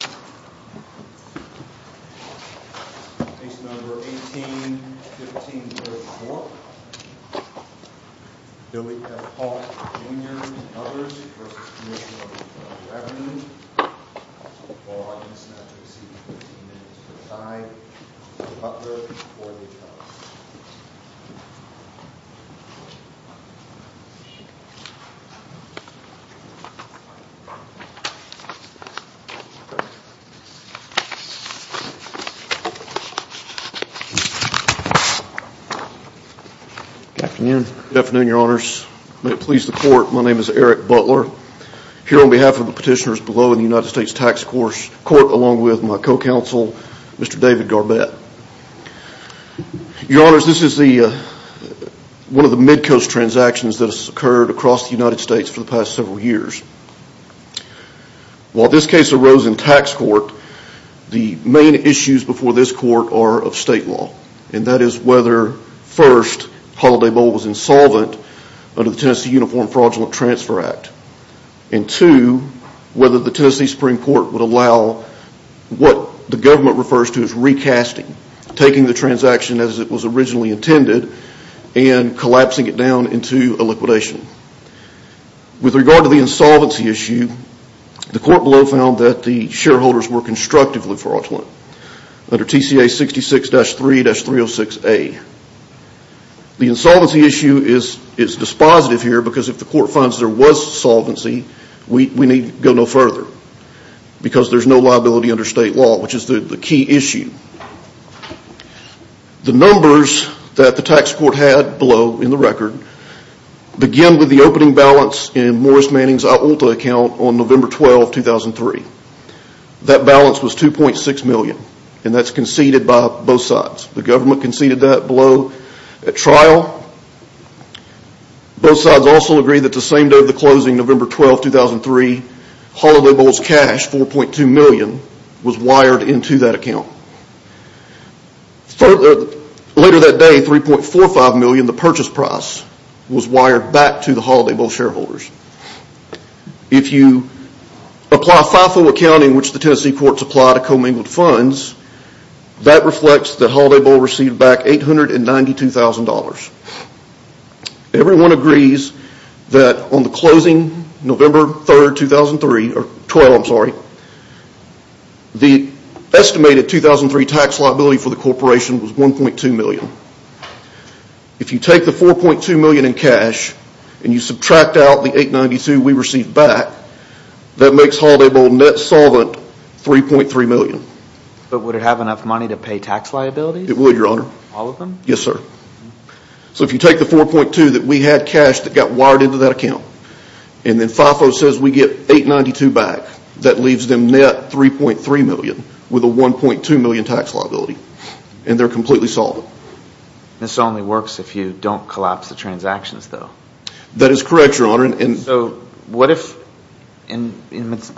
Case No. 18-15-04, Billy F. Hawk Jr v. Commissioner of the Federal Revenue, and I'm going to ask Commissioner Butler to come forward. Good afternoon, Your Honors. May it please the Court, my name is Eric Butler. Here on behalf of the petitioners below in the United States Tax Court, along with my co-counsel, Mr. David Garbett. Your Honors, this is one of the mid-coast transactions that has occurred across the United States for the past several years. While this case arose in tax court, the main issues before this court are of state law, and that is whether, first, Holiday Bowl was insolvent under the Tennessee Uniform Fraudulent Transfer Act, and two, whether the Tennessee Supreme Court would allow what the government refers to as recasting, taking the transaction as it was originally intended and collapsing it down into a liquidation. With regard to the insolvency issue, the court below found that the shareholders were constructively fraudulent. Under TCA 66-3-306A. The insolvency issue is dispositive here because if the court finds there was solvency, we need go no further. Because there's no liability under state law, which is the key issue. The numbers that the tax court had below in the record, begin with the opening balance in Morris Manning's Aulta account on November 12, 2003. That balance was $2.6 million, and that's conceded by both sides. The government conceded that below at trial. Both sides also agree that the same day of the closing, November 12, 2003, Holiday Bowl's cash, $4.2 million, was wired into that account. Later that day, $3.45 million, the purchase price, was wired back to the Holiday Bowl shareholders. If you apply FIFO accounting, which the Tennessee courts apply to commingled funds, that reflects the Holiday Bowl received back $892,000. Everyone agrees that on the closing November 12, 2003, the estimated 2003 tax liability for the corporation was $1.2 million. If you take the $4.2 million in cash, and you subtract out the $892,000 we received back, that makes Holiday Bowl net solvent $3.3 million. But would it have enough money to pay tax liabilities? It would, Your Honor. All of them? Yes, sir. So if you take the $4.2 million that we had cashed that got wired into that account, and then FIFO says we get $892,000 back, that leaves them net $3.3 million, with a $1.2 million tax liability, and they're completely solvent. This only works if you don't collapse the transactions, though. That is correct, Your Honor.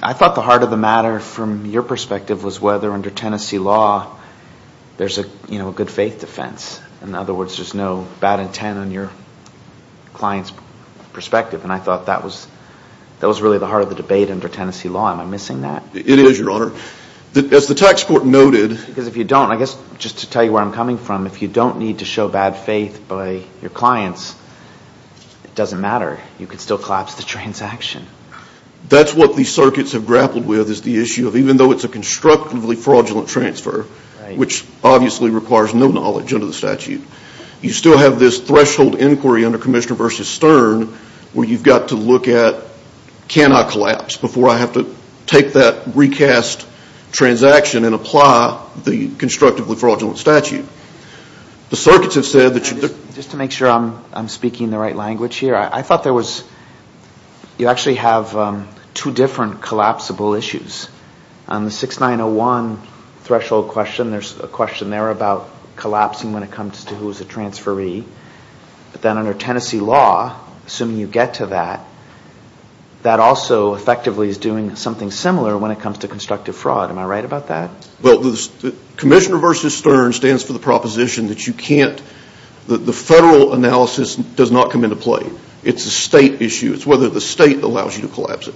I thought the heart of the matter from your perspective was whether under Tennessee law, there's a good faith defense. In other words, there's no bad intent on your client's perspective. And I thought that was really the heart of the debate under Tennessee law. Am I missing that? It is, Your Honor. As the tax court noted... Because if you don't, I guess just to tell you where I'm coming from, if you don't need to show bad faith by your clients, it doesn't matter. You could still collapse the transaction. That's what these circuits have grappled with is the issue of even though it's a constructively fraudulent transfer, which obviously requires no knowledge under the statute, you still have this threshold inquiry under Commissioner v. Stern where you've got to look at can I collapse before I have to take that recast transaction and apply the constructively fraudulent statute. The circuits have said... Just to make sure I'm speaking the right language here, I thought there was... you actually have two different collapsible issues. On the 6901 threshold question, there's a question there about collapsing when it comes to who's a transferee. But then under Tennessee law, assuming you get to that, that also effectively is doing something similar when it comes to constructive fraud. Am I right about that? Well, Commissioner v. Stern stands for the proposition that you can't... the federal analysis does not come into play. It's a state issue. It's whether the state allows you to collapse it.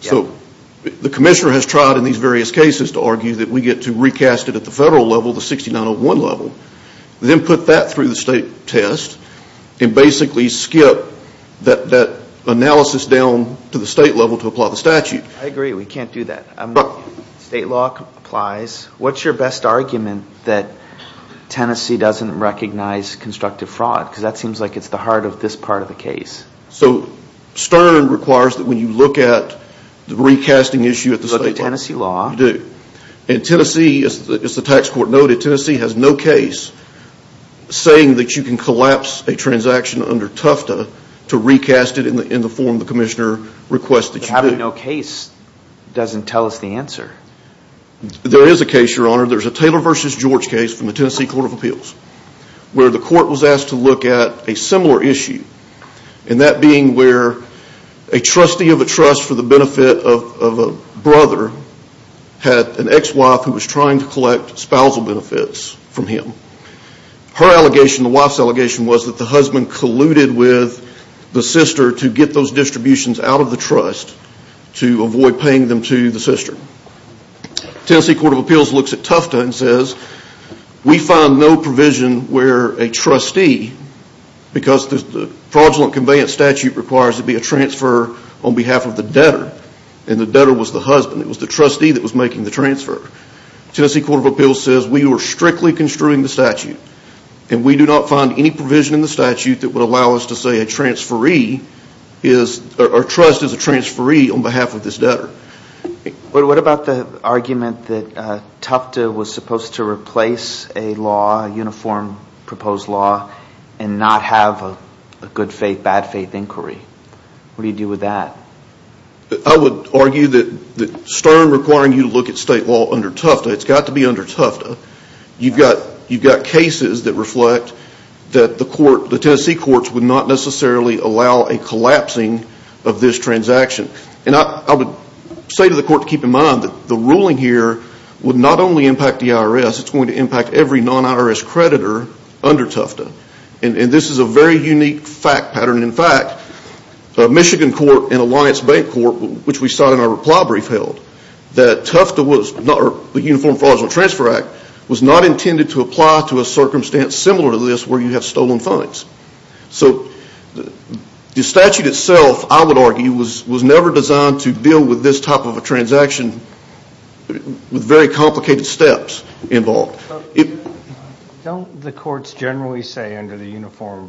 So the Commissioner has tried in these various cases to argue that we get to recast it at the federal level, the 6901 level, then put that through the state test and basically skip that analysis down to the state level to apply the statute. I agree. We can't do that. State law applies. What's your best argument that Tennessee doesn't recognize constructive fraud? Because that seems like it's the heart of this part of the case. So Stern requires that when you look at the recasting issue at the state level... You look at Tennessee law. You do. And Tennessee, as the tax court noted, Tennessee has no case saying that you can collapse a transaction under Tufta to recast it in the form the Commissioner requests that you do. But having no case doesn't tell us the answer. There is a case, Your Honor. There's a Taylor v. George case from the Tennessee Court of Appeals where the court was asked to look at a similar issue. And that being where a trustee of a trust for the benefit of a brother had an ex-wife who was trying to collect spousal benefits from him. Her allegation, the wife's allegation, was that the husband colluded with the sister to get those distributions out of the trust to avoid paying them to the sister. Tennessee Court of Appeals looks at Tufta and says, we find no provision where a trustee, because the fraudulent conveyance statute requires it to be a transfer on behalf of the debtor, and the debtor was the husband. It was the trustee that was making the transfer. And we do not find any provision in the statute that would allow us to say a transferee is, or trust is a transferee on behalf of this debtor. But what about the argument that Tufta was supposed to replace a law, a uniform proposed law, and not have a good faith, bad faith inquiry? What do you do with that? I would argue that Stern requiring you to look at state law under Tufta, it's got to be under Tufta. You've got cases that reflect that the court, the Tennessee courts would not necessarily allow a collapsing of this transaction. And I would say to the court to keep in mind that the ruling here would not only impact the IRS, it's going to impact every non-IRS creditor under Tufta. And this is a very unique fact pattern. In fact, Michigan Court and Alliance Bank Court, which we saw in our reply brief held, that Tufta was, the Uniform Fraudulent Transfer Act, was not intended to apply to a circumstance similar to this where you have stolen funds. So the statute itself, I would argue, was never designed to deal with this type of a transaction with very complicated steps involved. Don't the courts generally say under the Uniform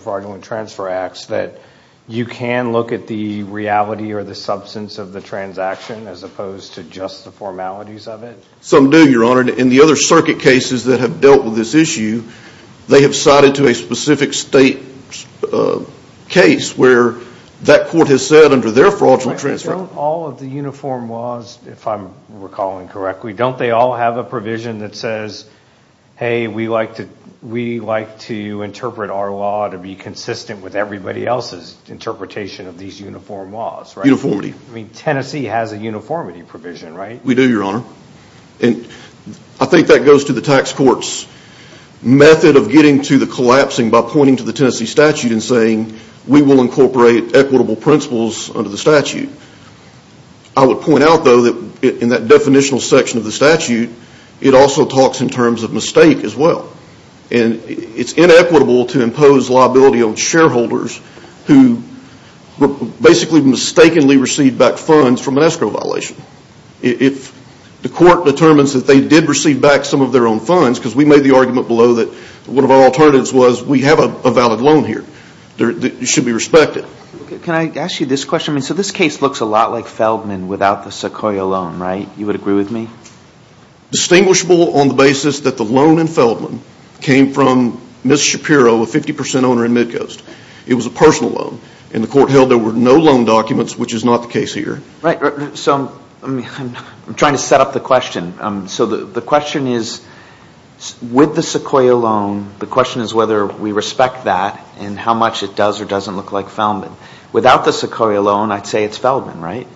Fraudulent Transfer Acts that you can look at the reality or the substance of the transaction as opposed to just the formalities of it? Some do, Your Honor. In the other circuit cases that have dealt with this issue, they have cited to a specific state case where that court has said under their Fraudulent Transfer Act— Don't all of the Uniform laws, if I'm recalling correctly, don't they all have a provision that says, hey, we like to interpret our law to be consistent with everybody else's interpretation of these Uniform laws, right? Uniformity. I mean, Tennessee has a uniformity provision, right? We do, Your Honor. And I think that goes to the tax court's method of getting to the collapsing by pointing to the Tennessee statute and saying, we will incorporate equitable principles under the statute. I would point out, though, that in that definitional section of the statute, it also talks in terms of mistake as well. And it's inequitable to impose liability on shareholders who basically mistakenly received back funds from an escrow violation. If the court determines that they did receive back some of their own funds, because we made the argument below that one of our alternatives was we have a valid loan here, it should be respected. Can I ask you this question? I mean, so this case looks a lot like Feldman without the Sequoia loan, right? You would agree with me? Distinguishable on the basis that the loan in Feldman came from Ms. Shapiro, a 50% owner in Midcoast. It was a personal loan. And the court held there were no loan documents, which is not the case here. Right. So I'm trying to set up the question. So the question is, with the Sequoia loan, the question is whether we respect that and how much it does or doesn't look like Feldman. Without the Sequoia loan, I'd say it's Feldman, right?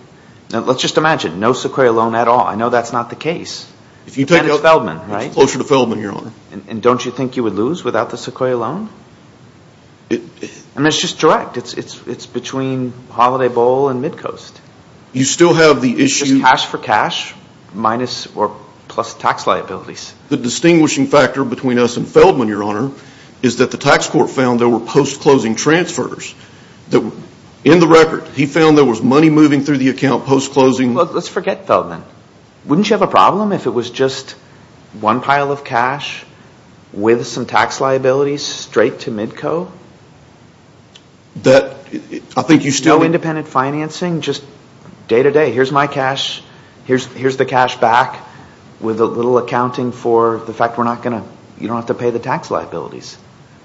Let's just imagine, no Sequoia loan at all. I know that's not the case. And it's Feldman, right? It's closer to Feldman, Your Honor. And don't you think you would lose without the Sequoia loan? I mean, it's just direct. It's between Holiday Bowl and Midcoast. You still have the issue. It's just cash for cash plus tax liabilities. The distinguishing factor between us and Feldman, Your Honor, is that the tax court found there were post-closing transfers. In the record, he found there was money moving through the account post-closing. Well, let's forget Feldman. Wouldn't you have a problem if it was just one pile of cash with some tax liabilities straight to Midco? No independent financing, just day-to-day. Here's my cash. Here's the cash back with a little accounting for the fact you don't have to pay the tax liabilities.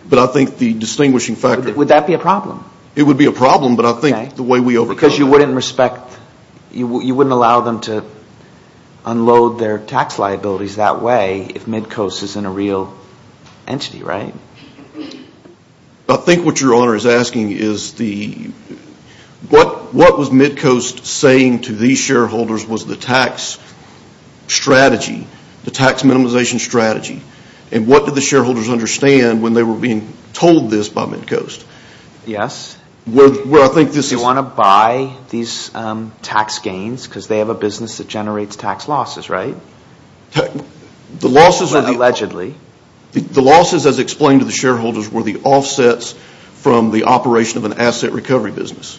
But I think the distinguishing factor... Would that be a problem? It would be a problem, but I think the way we overcome it... Because you wouldn't respect... You wouldn't allow them to unload their tax liabilities that way if Midco is in a real entity, right? I think what Your Honor is asking is the... What was Midco saying to these shareholders was the tax strategy, the tax minimization strategy? And what did the shareholders understand when they were being told this by Midco? Yes. Where I think this is... They want to buy these tax gains because they have a business that generates tax losses, right? The losses... Allegedly. The losses, as explained to the shareholders, were the offsets from the operation of an asset recovery business,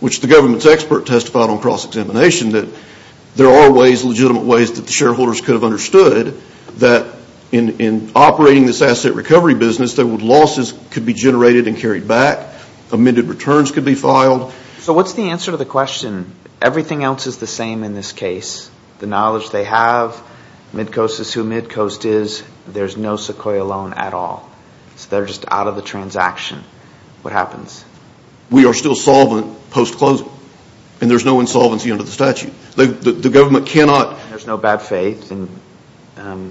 which the government's expert testified on cross-examination that there are ways, legitimate ways that the shareholders could have understood that in operating this asset recovery business, that losses could be generated and carried back, amended returns could be filed. So what's the answer to the question? Everything else is the same in this case. The knowledge they have, Midco is who Midco is, there's no Sequoia loan at all. So they're just out of the transaction. What happens? We are still solvent post-closing. And there's no insolvency under the statute. The government cannot... There's no bad faith and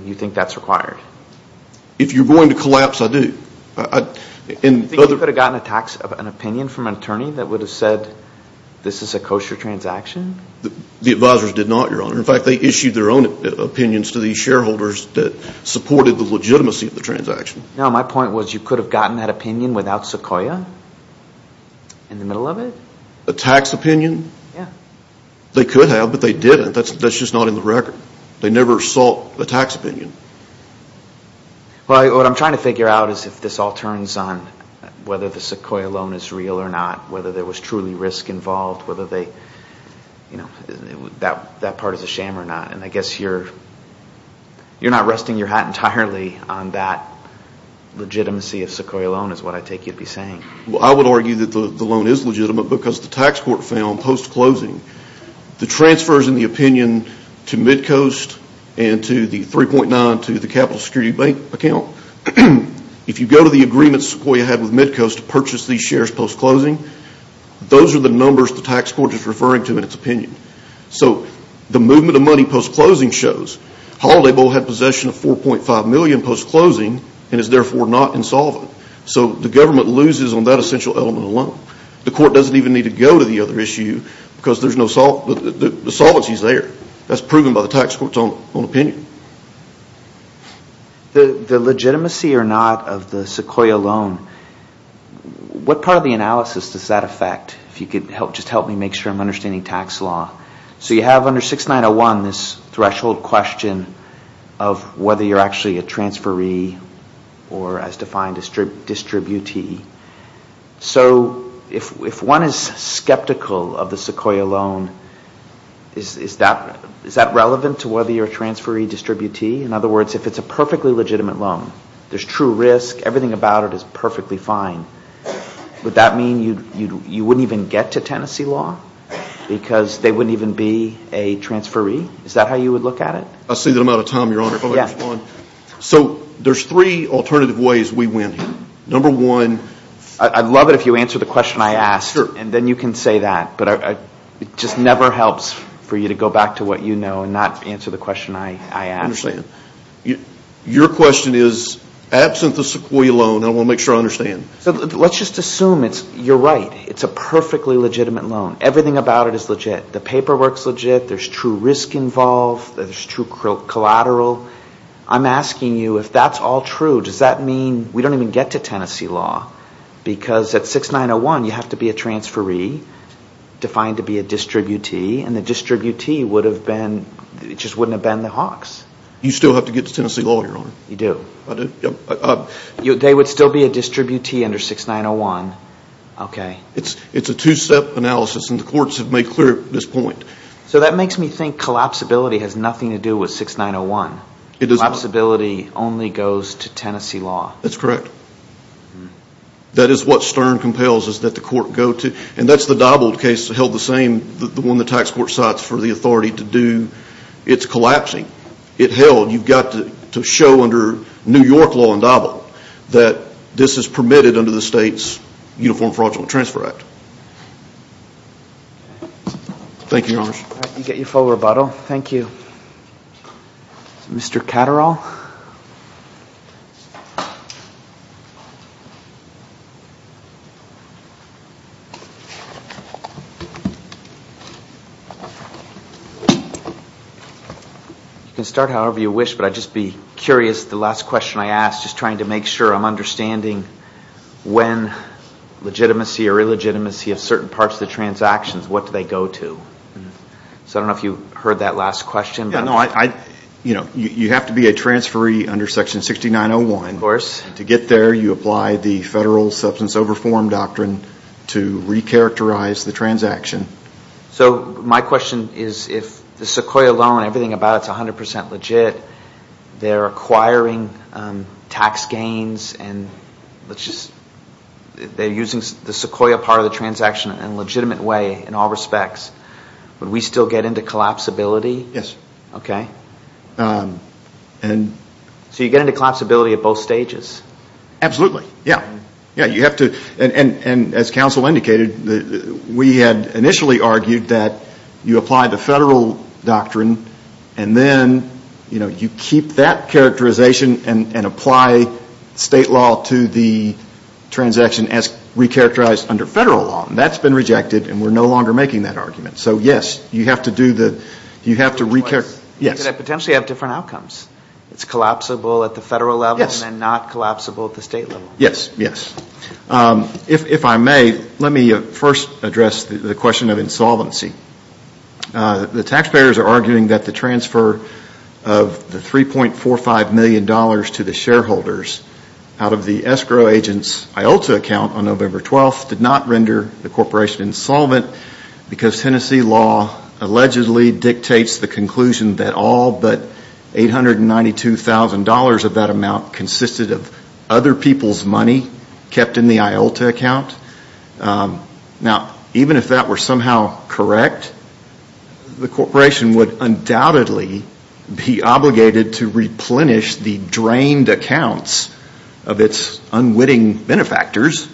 you think that's required. If you're going to collapse, I do. Do you think you could have gotten a tax opinion from an attorney that would have said this is a kosher transaction? The advisors did not, Your Honor. In fact, they issued their own opinions to these shareholders that supported the legitimacy of the transaction. No, my point was you could have gotten that opinion without Sequoia in the middle of it. A tax opinion? Yeah. They could have, but they didn't. That's just not in the record. They never sought a tax opinion. What I'm trying to figure out is if this all turns on whether the Sequoia loan is real or not, whether there was truly risk involved, whether that part is a sham or not. And I guess you're not resting your hat entirely on that legitimacy of Sequoia loan is what I take you to be saying. I would argue that the loan is legitimate because the tax court found post-closing, the transfers in the opinion to Midcoast and to the 3.9 to the capital security bank account, if you go to the agreements Sequoia had with Midcoast to purchase these shares post-closing, those are the numbers the tax court is referring to in its opinion. So the movement of money post-closing shows Holiday Bowl had possession of 4.5 million post-closing and is therefore not insolvent. So the government loses on that essential element alone. The court doesn't even need to go to the other issue because the solvency is there. That's proven by the tax court's own opinion. The legitimacy or not of the Sequoia loan, what part of the analysis does that affect? If you could just help me make sure I'm understanding tax law. So you have under 6901 this threshold question of whether you're actually a transferee or as defined, a distributee. So if one is skeptical of the Sequoia loan, is that relevant to whether you're a transferee, distributee? In other words, if it's a perfectly legitimate loan, there's true risk, everything about it is perfectly fine. Would that mean you wouldn't even get to Tennessee law because they wouldn't even be a transferee? Is that how you would look at it? So there's three alternative ways we win here. Number one. I'd love it if you answered the question I asked, and then you can say that. But it just never helps for you to go back to what you know and not answer the question I asked. I understand. Your question is, absent the Sequoia loan, I want to make sure I understand. Let's just assume you're right. It's a perfectly legitimate loan. Everything about it is legit. The paperwork's legit. There's true risk involved. There's true collateral. I'm asking you, if that's all true, does that mean we don't even get to Tennessee law? Because at 6901, you have to be a transferee, defined to be a distributee, and the distributee just wouldn't have been the Hawks. You still have to get to Tennessee law, Your Honor. You do? I do. They would still be a distributee under 6901. Okay. It's a two-step analysis, and the courts have made clear this point. So that makes me think collapsibility has nothing to do with 6901. It doesn't. Collapsibility only goes to Tennessee law. That's correct. That is what Stern compels, is that the court go to. And that's the Dobbled case, held the same, the one the tax court cites for the authority to do. It's collapsing. It held. You've got to show under New York law in Dobbled that this is permitted under the state's Uniform Fraudulent Transfer Act. Thank you, Your Honor. All right. You get your full rebuttal. Thank you. Mr. Catterall? You can start however you wish, but I'd just be curious, the last question I asked, just trying to make sure I'm understanding when legitimacy or illegitimacy of certain parts of the transactions, what do they go to? So I don't know if you heard that last question. No. You have to be a transferee under Section 6901. Of course. To get there, you apply the Federal Substance Overform Doctrine to recharacterize the transaction. So my question is if the Sequoia loan, everything about it is 100% legit, they're acquiring tax gains, and they're using the Sequoia part of the transaction in a legitimate way in all respects, would we still get into collapsibility? Yes. Okay. So you get into collapsibility at both stages? Absolutely. Yeah. And as counsel indicated, we had initially argued that you apply the Federal Doctrine, and then you keep that characterization and apply state law to the transaction as recharacterized under Federal law. And that's been rejected, and we're no longer making that argument. So yes, you have to do the, you have to recharacterize. You could potentially have different outcomes. It's collapsible at the Federal level and not collapsible at the state level. Yes, yes. If I may, let me first address the question of insolvency. The taxpayers are arguing that the transfer of the $3.45 million to the shareholders out of the escrow agent's IOLTA account on November 12th did not render the corporation insolvent because Tennessee law allegedly dictates the conclusion that all but $892,000 of that amount consisted of other people's money kept in the IOLTA account. Now, even if that were somehow correct, the corporation would undoubtedly be obligated to replenish the drained accounts of its unwitting benefactors,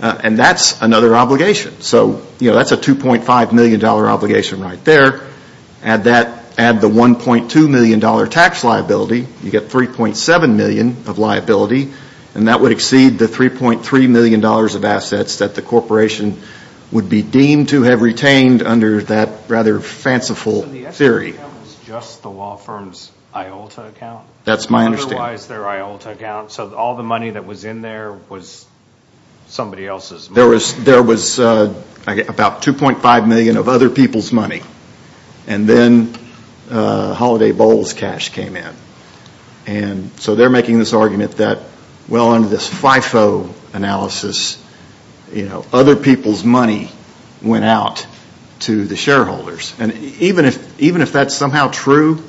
and that's another obligation. So, you know, that's a $2.5 million obligation right there. Add that, add the $1.2 million tax liability, you get $3.7 million of liability, and that would exceed the $3.3 million of assets that the corporation would be deemed to have retained under that rather fanciful theory. So the escrow account is just the law firm's IOLTA account? That's my understanding. Otherwise their IOLTA account, so all the money that was in there was somebody else's money? There was about $2.5 million of other people's money, and then Holiday Bowl's cash came in. And so they're making this argument that, well, under this FIFO analysis, you know, other people's money went out to the shareholders. And even if that's somehow true,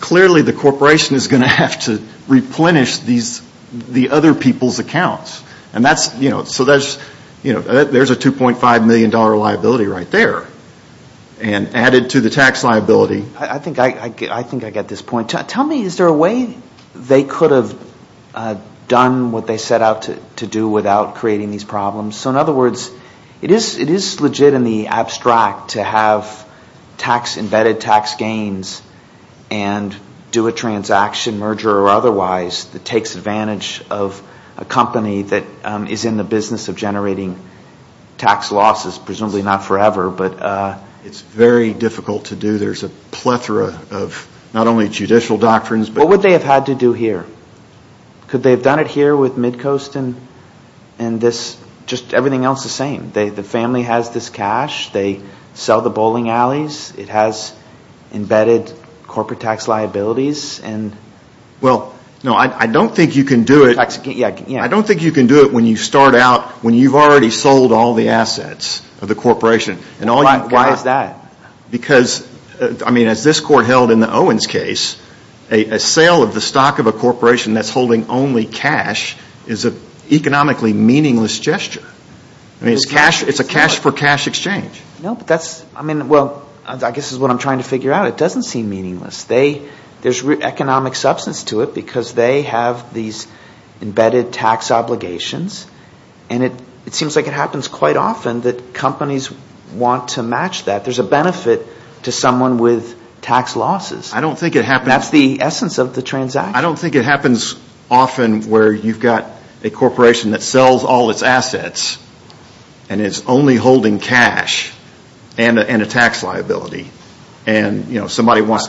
clearly the corporation is going to have to replenish the other people's accounts. And that's, you know, so there's a $2.5 million liability right there. And added to the tax liability. I think I get this point. Tell me, is there a way they could have done what they set out to do without creating these problems? So in other words, it is legit in the abstract to have tax, embedded tax gains, and do a transaction, merger or otherwise, that takes advantage of a company that is in the business of generating tax losses. Presumably not forever, but... It's very difficult to do. There's a plethora of not only judicial doctrines, but... What would they have had to do here? Could they have done it here with Midcoast and this, just everything else the same? The family has this cash. They sell the bowling alleys. It has embedded corporate tax liabilities and... Well, no, I don't think you can do it... I don't think you can do it when you start out, when you've already sold all the assets of the corporation. Why is that? Because, I mean, as this court held in the Owens case, a sale of the stock of a corporation that's holding only cash is an economically meaningless gesture. I mean, it's a cash for cash exchange. No, but that's, I mean, well, I guess this is what I'm trying to figure out. It doesn't seem meaningless. There's economic substance to it because they have these embedded tax obligations, and it seems like it happens quite often that companies want to match that. There's a benefit to someone with tax losses. I don't think it happens... That's the essence of the transaction. I don't think it happens often where you've got a corporation that sells all its assets, and it's only holding cash and a tax liability. And, you know, somebody wants...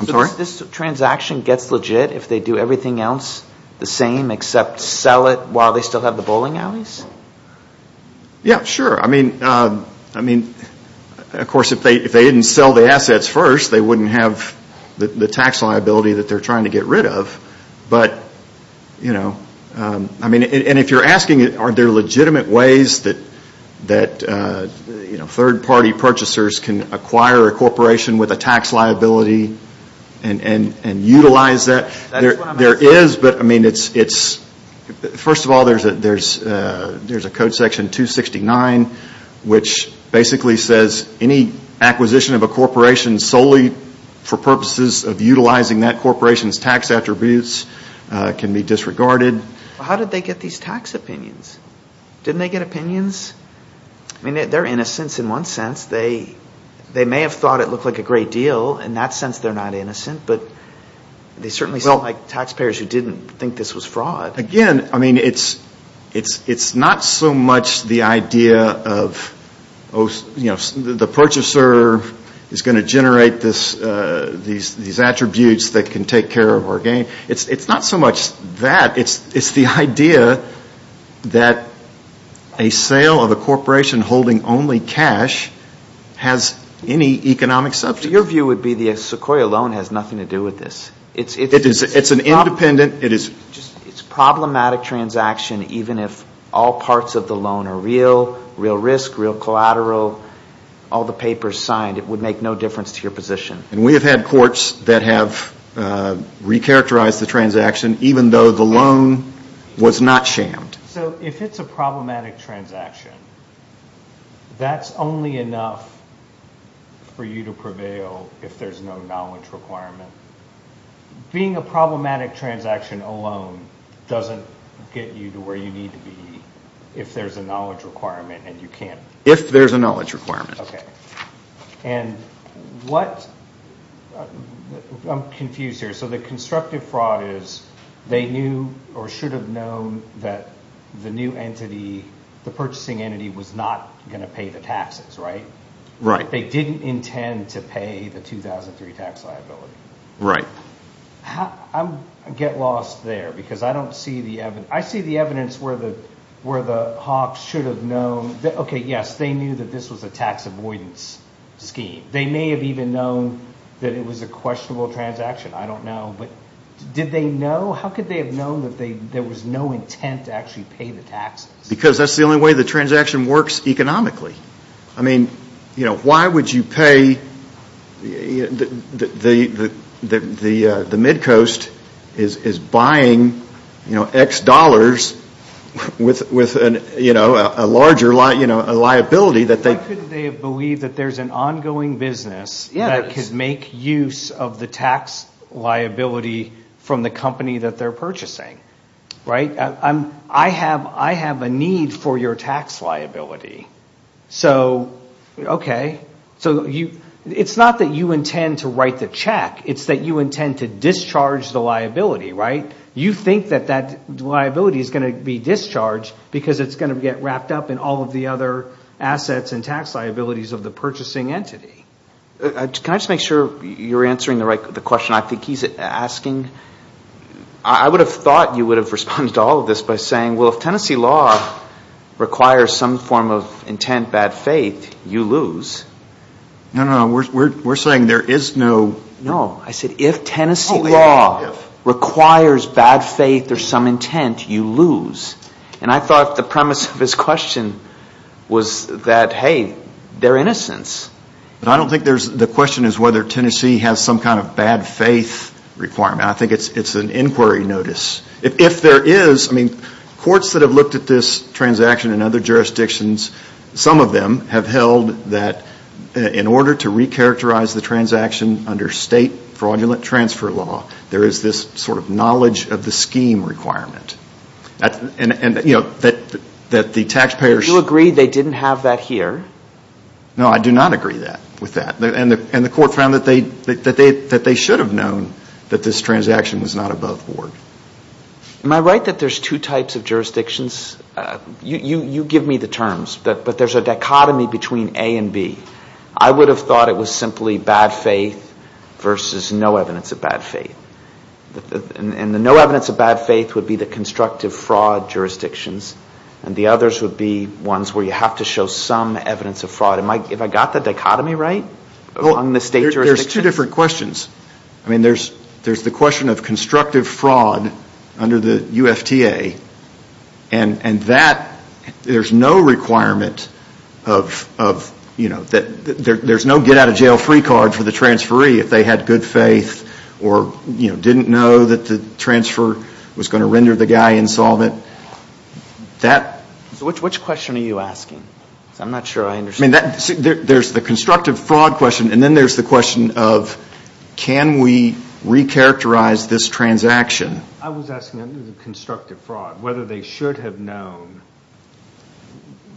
I'm sorry? So this transaction gets legit if they do everything else the same except sell it while they still have the bowling alleys? Yeah, sure. I mean, of course, if they didn't sell the assets first, they wouldn't have the tax liability that they're trying to get rid of. But, you know, I mean, and if you're asking are there legitimate ways that, you know, third-party purchasers can acquire a corporation with a tax liability and utilize that, there is. But, I mean, it's... First of all, there's a code section 269 which basically says any acquisition of a corporation solely for purposes of utilizing that corporation's tax attributes can be disregarded. How did they get these tax opinions? Didn't they get opinions? I mean, they're innocents in one sense. They may have thought it looked like a great deal. In that sense, they're not innocent. But they certainly look like taxpayers who didn't think this was fraud. Again, I mean, it's not so much the idea of, you know, the purchaser is going to generate these attributes that can take care of our gain. It's not so much that. It's the idea that a sale of a corporation holding only cash has any economic subject. Your view would be the Sequoia loan has nothing to do with this. It's an independent... It's a problematic transaction even if all parts of the loan are real, real risk, real collateral, all the papers signed. It would make no difference to your position. And we have had courts that have recharacterized the transaction even though the loan was not shammed. So if it's a problematic transaction, that's only enough for you to prevail if there's no knowledge requirement. Being a problematic transaction alone doesn't get you to where you need to be if there's a knowledge requirement and you can't... If there's a knowledge requirement. Okay. And what... I'm confused here. So the constructive fraud is they knew or should have known that the new entity, the purchasing entity, was not going to pay the taxes, right? Right. They didn't intend to pay the 2003 tax liability. Right. I get lost there because I don't see the evidence. I see the evidence where the Hawks should have known. Okay, yes, they knew that this was a tax avoidance scheme. They may have even known that it was a questionable transaction. I don't know. But did they know? How could they have known that there was no intent to actually pay the taxes? Because that's the only way the transaction works economically. I mean, you know, why would you pay... The mid-coast is buying, you know, X dollars with, you know, a larger liability that they... How could they have believed that there's an ongoing business that could make use of the tax liability from the company that they're purchasing? Right? I have a need for your tax liability. So, okay. So it's not that you intend to write the check. It's that you intend to discharge the liability, right? You think that that liability is going to be discharged because it's going to get wrapped up in all of the other assets and tax liabilities of the purchasing entity. Can I just make sure you're answering the question I think he's asking? I would have thought you would have responded to all of this by saying, well, if Tennessee law requires some form of intent, bad faith, you lose. No, no, no. We're saying there is no... No. I said if Tennessee law requires bad faith or some intent, you lose. And I thought the premise of his question was that, hey, they're innocents. But I don't think there's... The question is whether Tennessee has some kind of bad faith requirement. I think it's an inquiry notice. If there is, I mean, courts that have looked at this transaction in other jurisdictions, some of them have held that in order to recharacterize the transaction under state fraudulent transfer law, there is this sort of knowledge of the scheme requirement. And, you know, that the taxpayers... Do you agree they didn't have that here? No, I do not agree with that. And the court found that they should have known that this transaction was not above board. Am I right that there's two types of jurisdictions? You give me the terms. But there's a dichotomy between A and B. I would have thought it was simply bad faith versus no evidence of bad faith. And the no evidence of bad faith would be the constructive fraud jurisdictions. And the others would be ones where you have to show some evidence of fraud. Have I got the dichotomy right among the state jurisdictions? There's two different questions. I mean, there's the question of constructive fraud under the UFTA. And that, there's no requirement of, you know, there's no get-out-of-jail-free card for the transferee if they had good faith or, you know, didn't know that the transfer was going to render the guy insolvent. That... So which question are you asking? Because I'm not sure I understand. I mean, there's the constructive fraud question, and then there's the question of can we recharacterize this transaction? I was asking under the constructive fraud whether they should have known.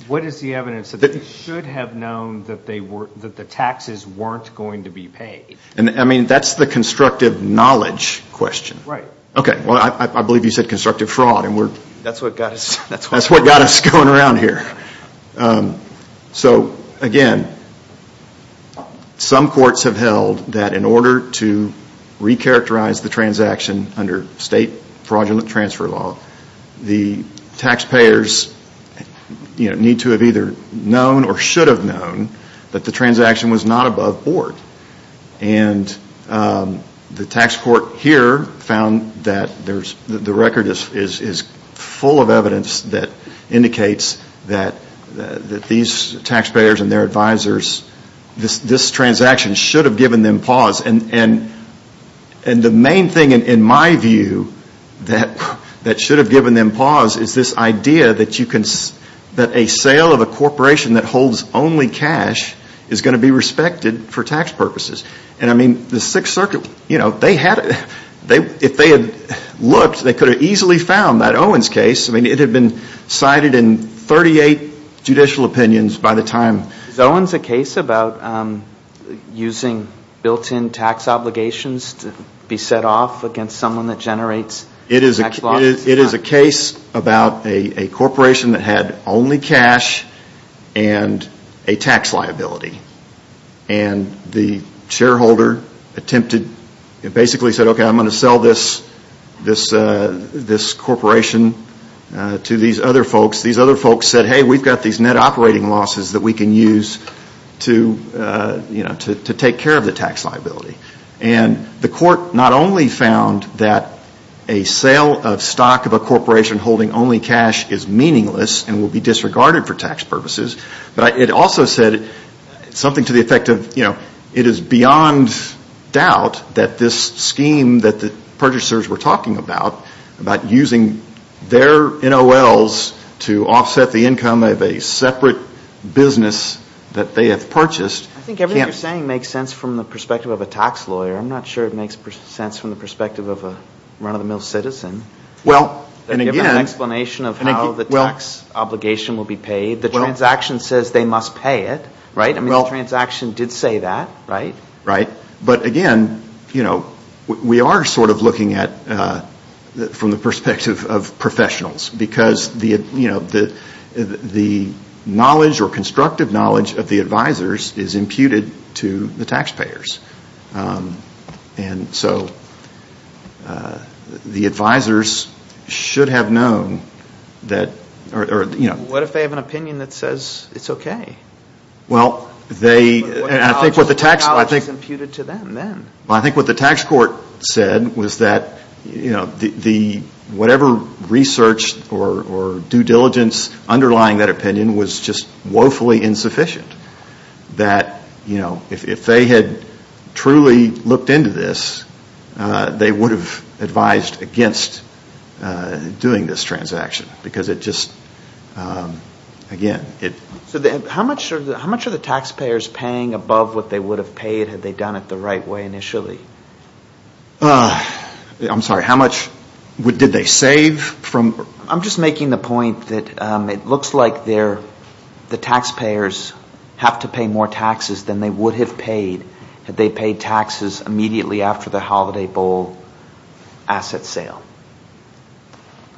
What is the evidence that they should have known that the taxes weren't going to be paid? I mean, that's the constructive knowledge question. Right. Okay. Well, I believe you said constructive fraud, and we're... That's what got us going around here. So, again, some courts have held that in order to recharacterize the transaction under state fraudulent transfer law, the taxpayers, you know, need to have either known or should have known that the transaction was not above board. And the tax court here found that the record is full of evidence that indicates that these taxpayers and their advisors, this transaction should have given them pause. And the main thing in my view that should have given them pause is this idea that a sale of a corporation that holds only cash is going to be respected for tax purposes. And, I mean, the Sixth Circuit, you know, they had... If they had looked, they could have easily found that Owens case. I mean, it had been cited in 38 judicial opinions by the time... Is Owens a case about using built-in tax obligations to be set off against someone that generates... It is a case about a corporation that had only cash and a tax liability. And the shareholder attempted, basically said, okay, I'm going to sell this corporation to these other folks. And they said, hey, we've got these net operating losses that we can use to, you know, to take care of the tax liability. And the court not only found that a sale of stock of a corporation holding only cash is meaningless and will be disregarded for tax purposes, but it also said something to the effect of, you know, it is beyond doubt that this scheme that the purchasers were talking about, about using their NOLs to offset the income of a separate business that they have purchased... I think everything you're saying makes sense from the perspective of a tax lawyer. I'm not sure it makes sense from the perspective of a run-of-the-mill citizen. They give an explanation of how the tax obligation will be paid. The transaction says they must pay it, right? The transaction did say that, right? Right. But again, you know, we are sort of looking at, from the perspective of professionals, because the knowledge or constructive knowledge of the advisors is imputed to the taxpayers. And so the advisors should have known that... What if they have an opinion that says it's okay? Well, they... What knowledge is imputed to them then? Well, I think what the tax court said was that, you know, whatever research or due diligence underlying that opinion was just woefully insufficient. That, you know, if they had truly looked into this, they would have advised against doing this transaction. Because it just, again... So how much are the taxpayers paying above what they would have paid had they done it the right way initially? I'm sorry, how much did they save from... I'm just making the point that it looks like the taxpayers have to pay more taxes than they would have paid had they paid taxes immediately after the Holiday Bowl asset sale.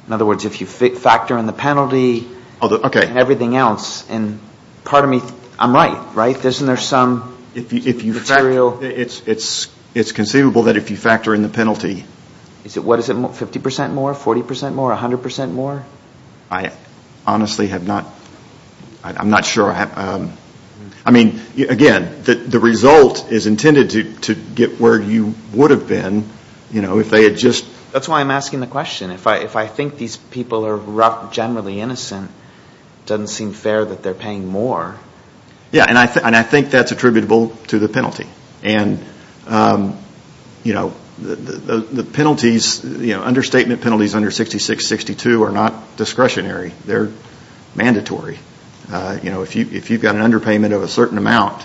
In other words, if you factor in the penalty and everything else... And pardon me, I'm right, right? Isn't there some material... It's conceivable that if you factor in the penalty... What is it, 50% more, 40% more, 100% more? I honestly have not... I'm not sure. I mean, again, the result is intended to get where you would have been, you know, if they had just... That's why I'm asking the question. If I think these people are generally innocent, it doesn't seem fair that they're paying more. Yeah, and I think that's attributable to the penalty. And, you know, the penalties, understatement penalties under 6662 are not discretionary. They're mandatory. If you've got an underpayment of a certain amount,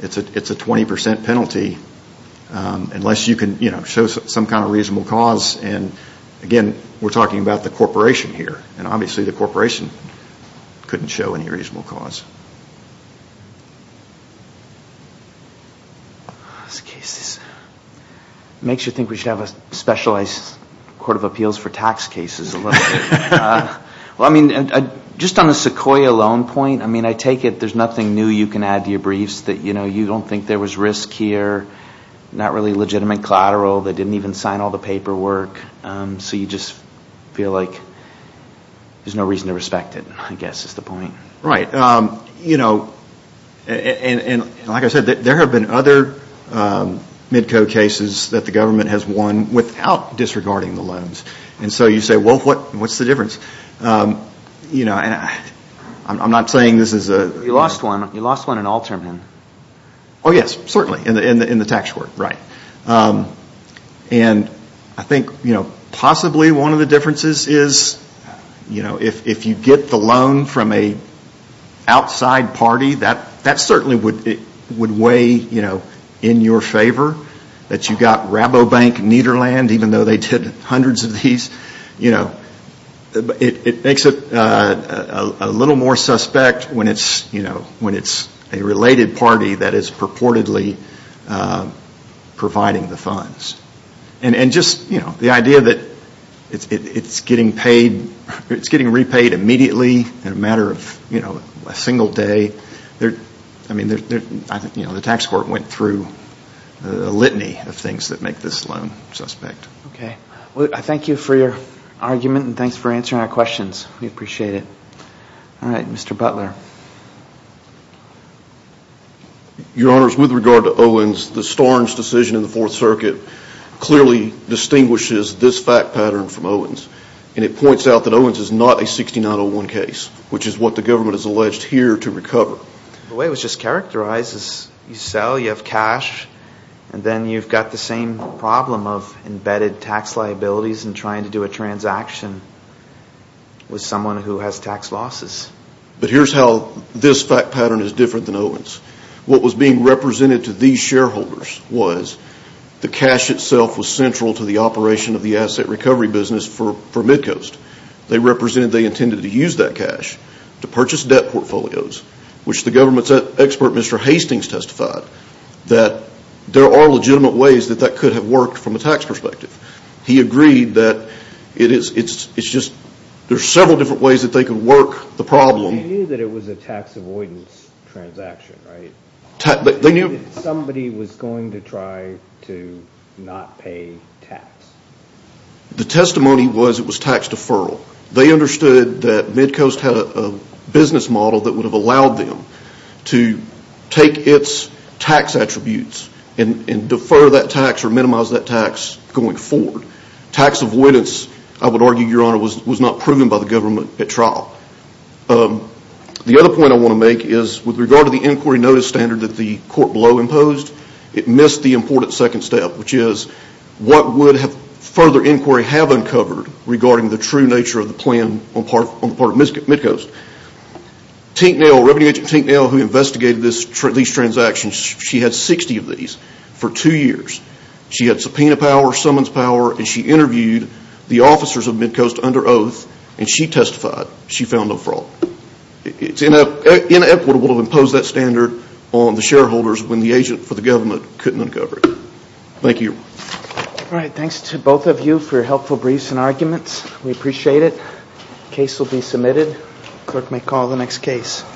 it's a 20% penalty unless you can show some kind of reasonable cause. And, again, we're talking about the corporation here. And obviously the corporation couldn't show any reasonable cause. This case makes you think we should have a specialized court of appeals for tax cases a little bit. Well, I mean, just on the Sequoia loan point, I mean, I take it there's nothing new you can add to your briefs that, you know, you don't think there was risk here, not really legitimate collateral. They didn't even sign all the paperwork. So you just feel like there's no reason to respect it, I guess, is the point. Right. You know, and like I said, there have been other MIDCO cases that the government has won without disregarding the loans. And so you say, well, what's the difference? You know, and I'm not saying this is a... You lost one. You lost one in Alterman. Oh, yes, certainly, in the tax court, right. And I think, you know, possibly one of the differences is, you know, if you get the loan from a outside party, that certainly would weigh, you know, in your favor, that you got Rabobank, Nederland, even though they did hundreds of these, you know. It makes it a little more suspect when it's, you know, when it's a related party that is purportedly providing the funds. And just, you know, the idea that it's getting repaid immediately in a matter of, you know, a single day. I mean, you know, the tax court went through a litany of things that make this loan suspect. Okay. Well, I thank you for your argument, and thanks for answering our questions. We appreciate it. All right, Mr. Butler. Your Honors, with regard to Owens, the Starnes decision in the Fourth Circuit clearly distinguishes this fact pattern from Owens. And it points out that Owens is not a 6901 case, which is what the government has alleged here to recover. The way it was just characterized is you sell, you have cash, and then you've got the same problem of embedded tax liabilities and trying to do a transaction with someone who has tax losses. But here's how this fact pattern is different than Owens. What was being represented to these shareholders was the cash itself was central to the operation of the asset recovery business for Midcoast. They represented they intended to use that cash to purchase debt portfolios, which the government's expert, Mr. Hastings, testified that there are legitimate ways that that could have worked from a tax perspective. He agreed that it's just there's several different ways that they could work the problem. They knew that it was a tax avoidance transaction, right? They knew. Somebody was going to try to not pay tax. The testimony was it was tax deferral. They understood that Midcoast had a business model that would have allowed them to take its tax attributes and defer that tax or minimize that tax going forward. Tax avoidance, I would argue, Your Honor, was not proven by the government at trial. The other point I want to make is with regard to the inquiry notice standard that the court below imposed, it missed the important second step, which is what would further inquiry have uncovered regarding the true nature of the plan on the part of Midcoast. Tinknell, revenue agent Tinknell, who investigated these transactions, she had 60 of these for two years. She had subpoena power, summons power, and she interviewed the officers of Midcoast under oath, and she testified she found no fraud. It's inequitable to impose that standard on the shareholders when the agent for the government couldn't uncover it. Thank you. All right. Thanks to both of you for your helpful briefs and arguments. We appreciate it. Case will be submitted. Clerk may call the next case.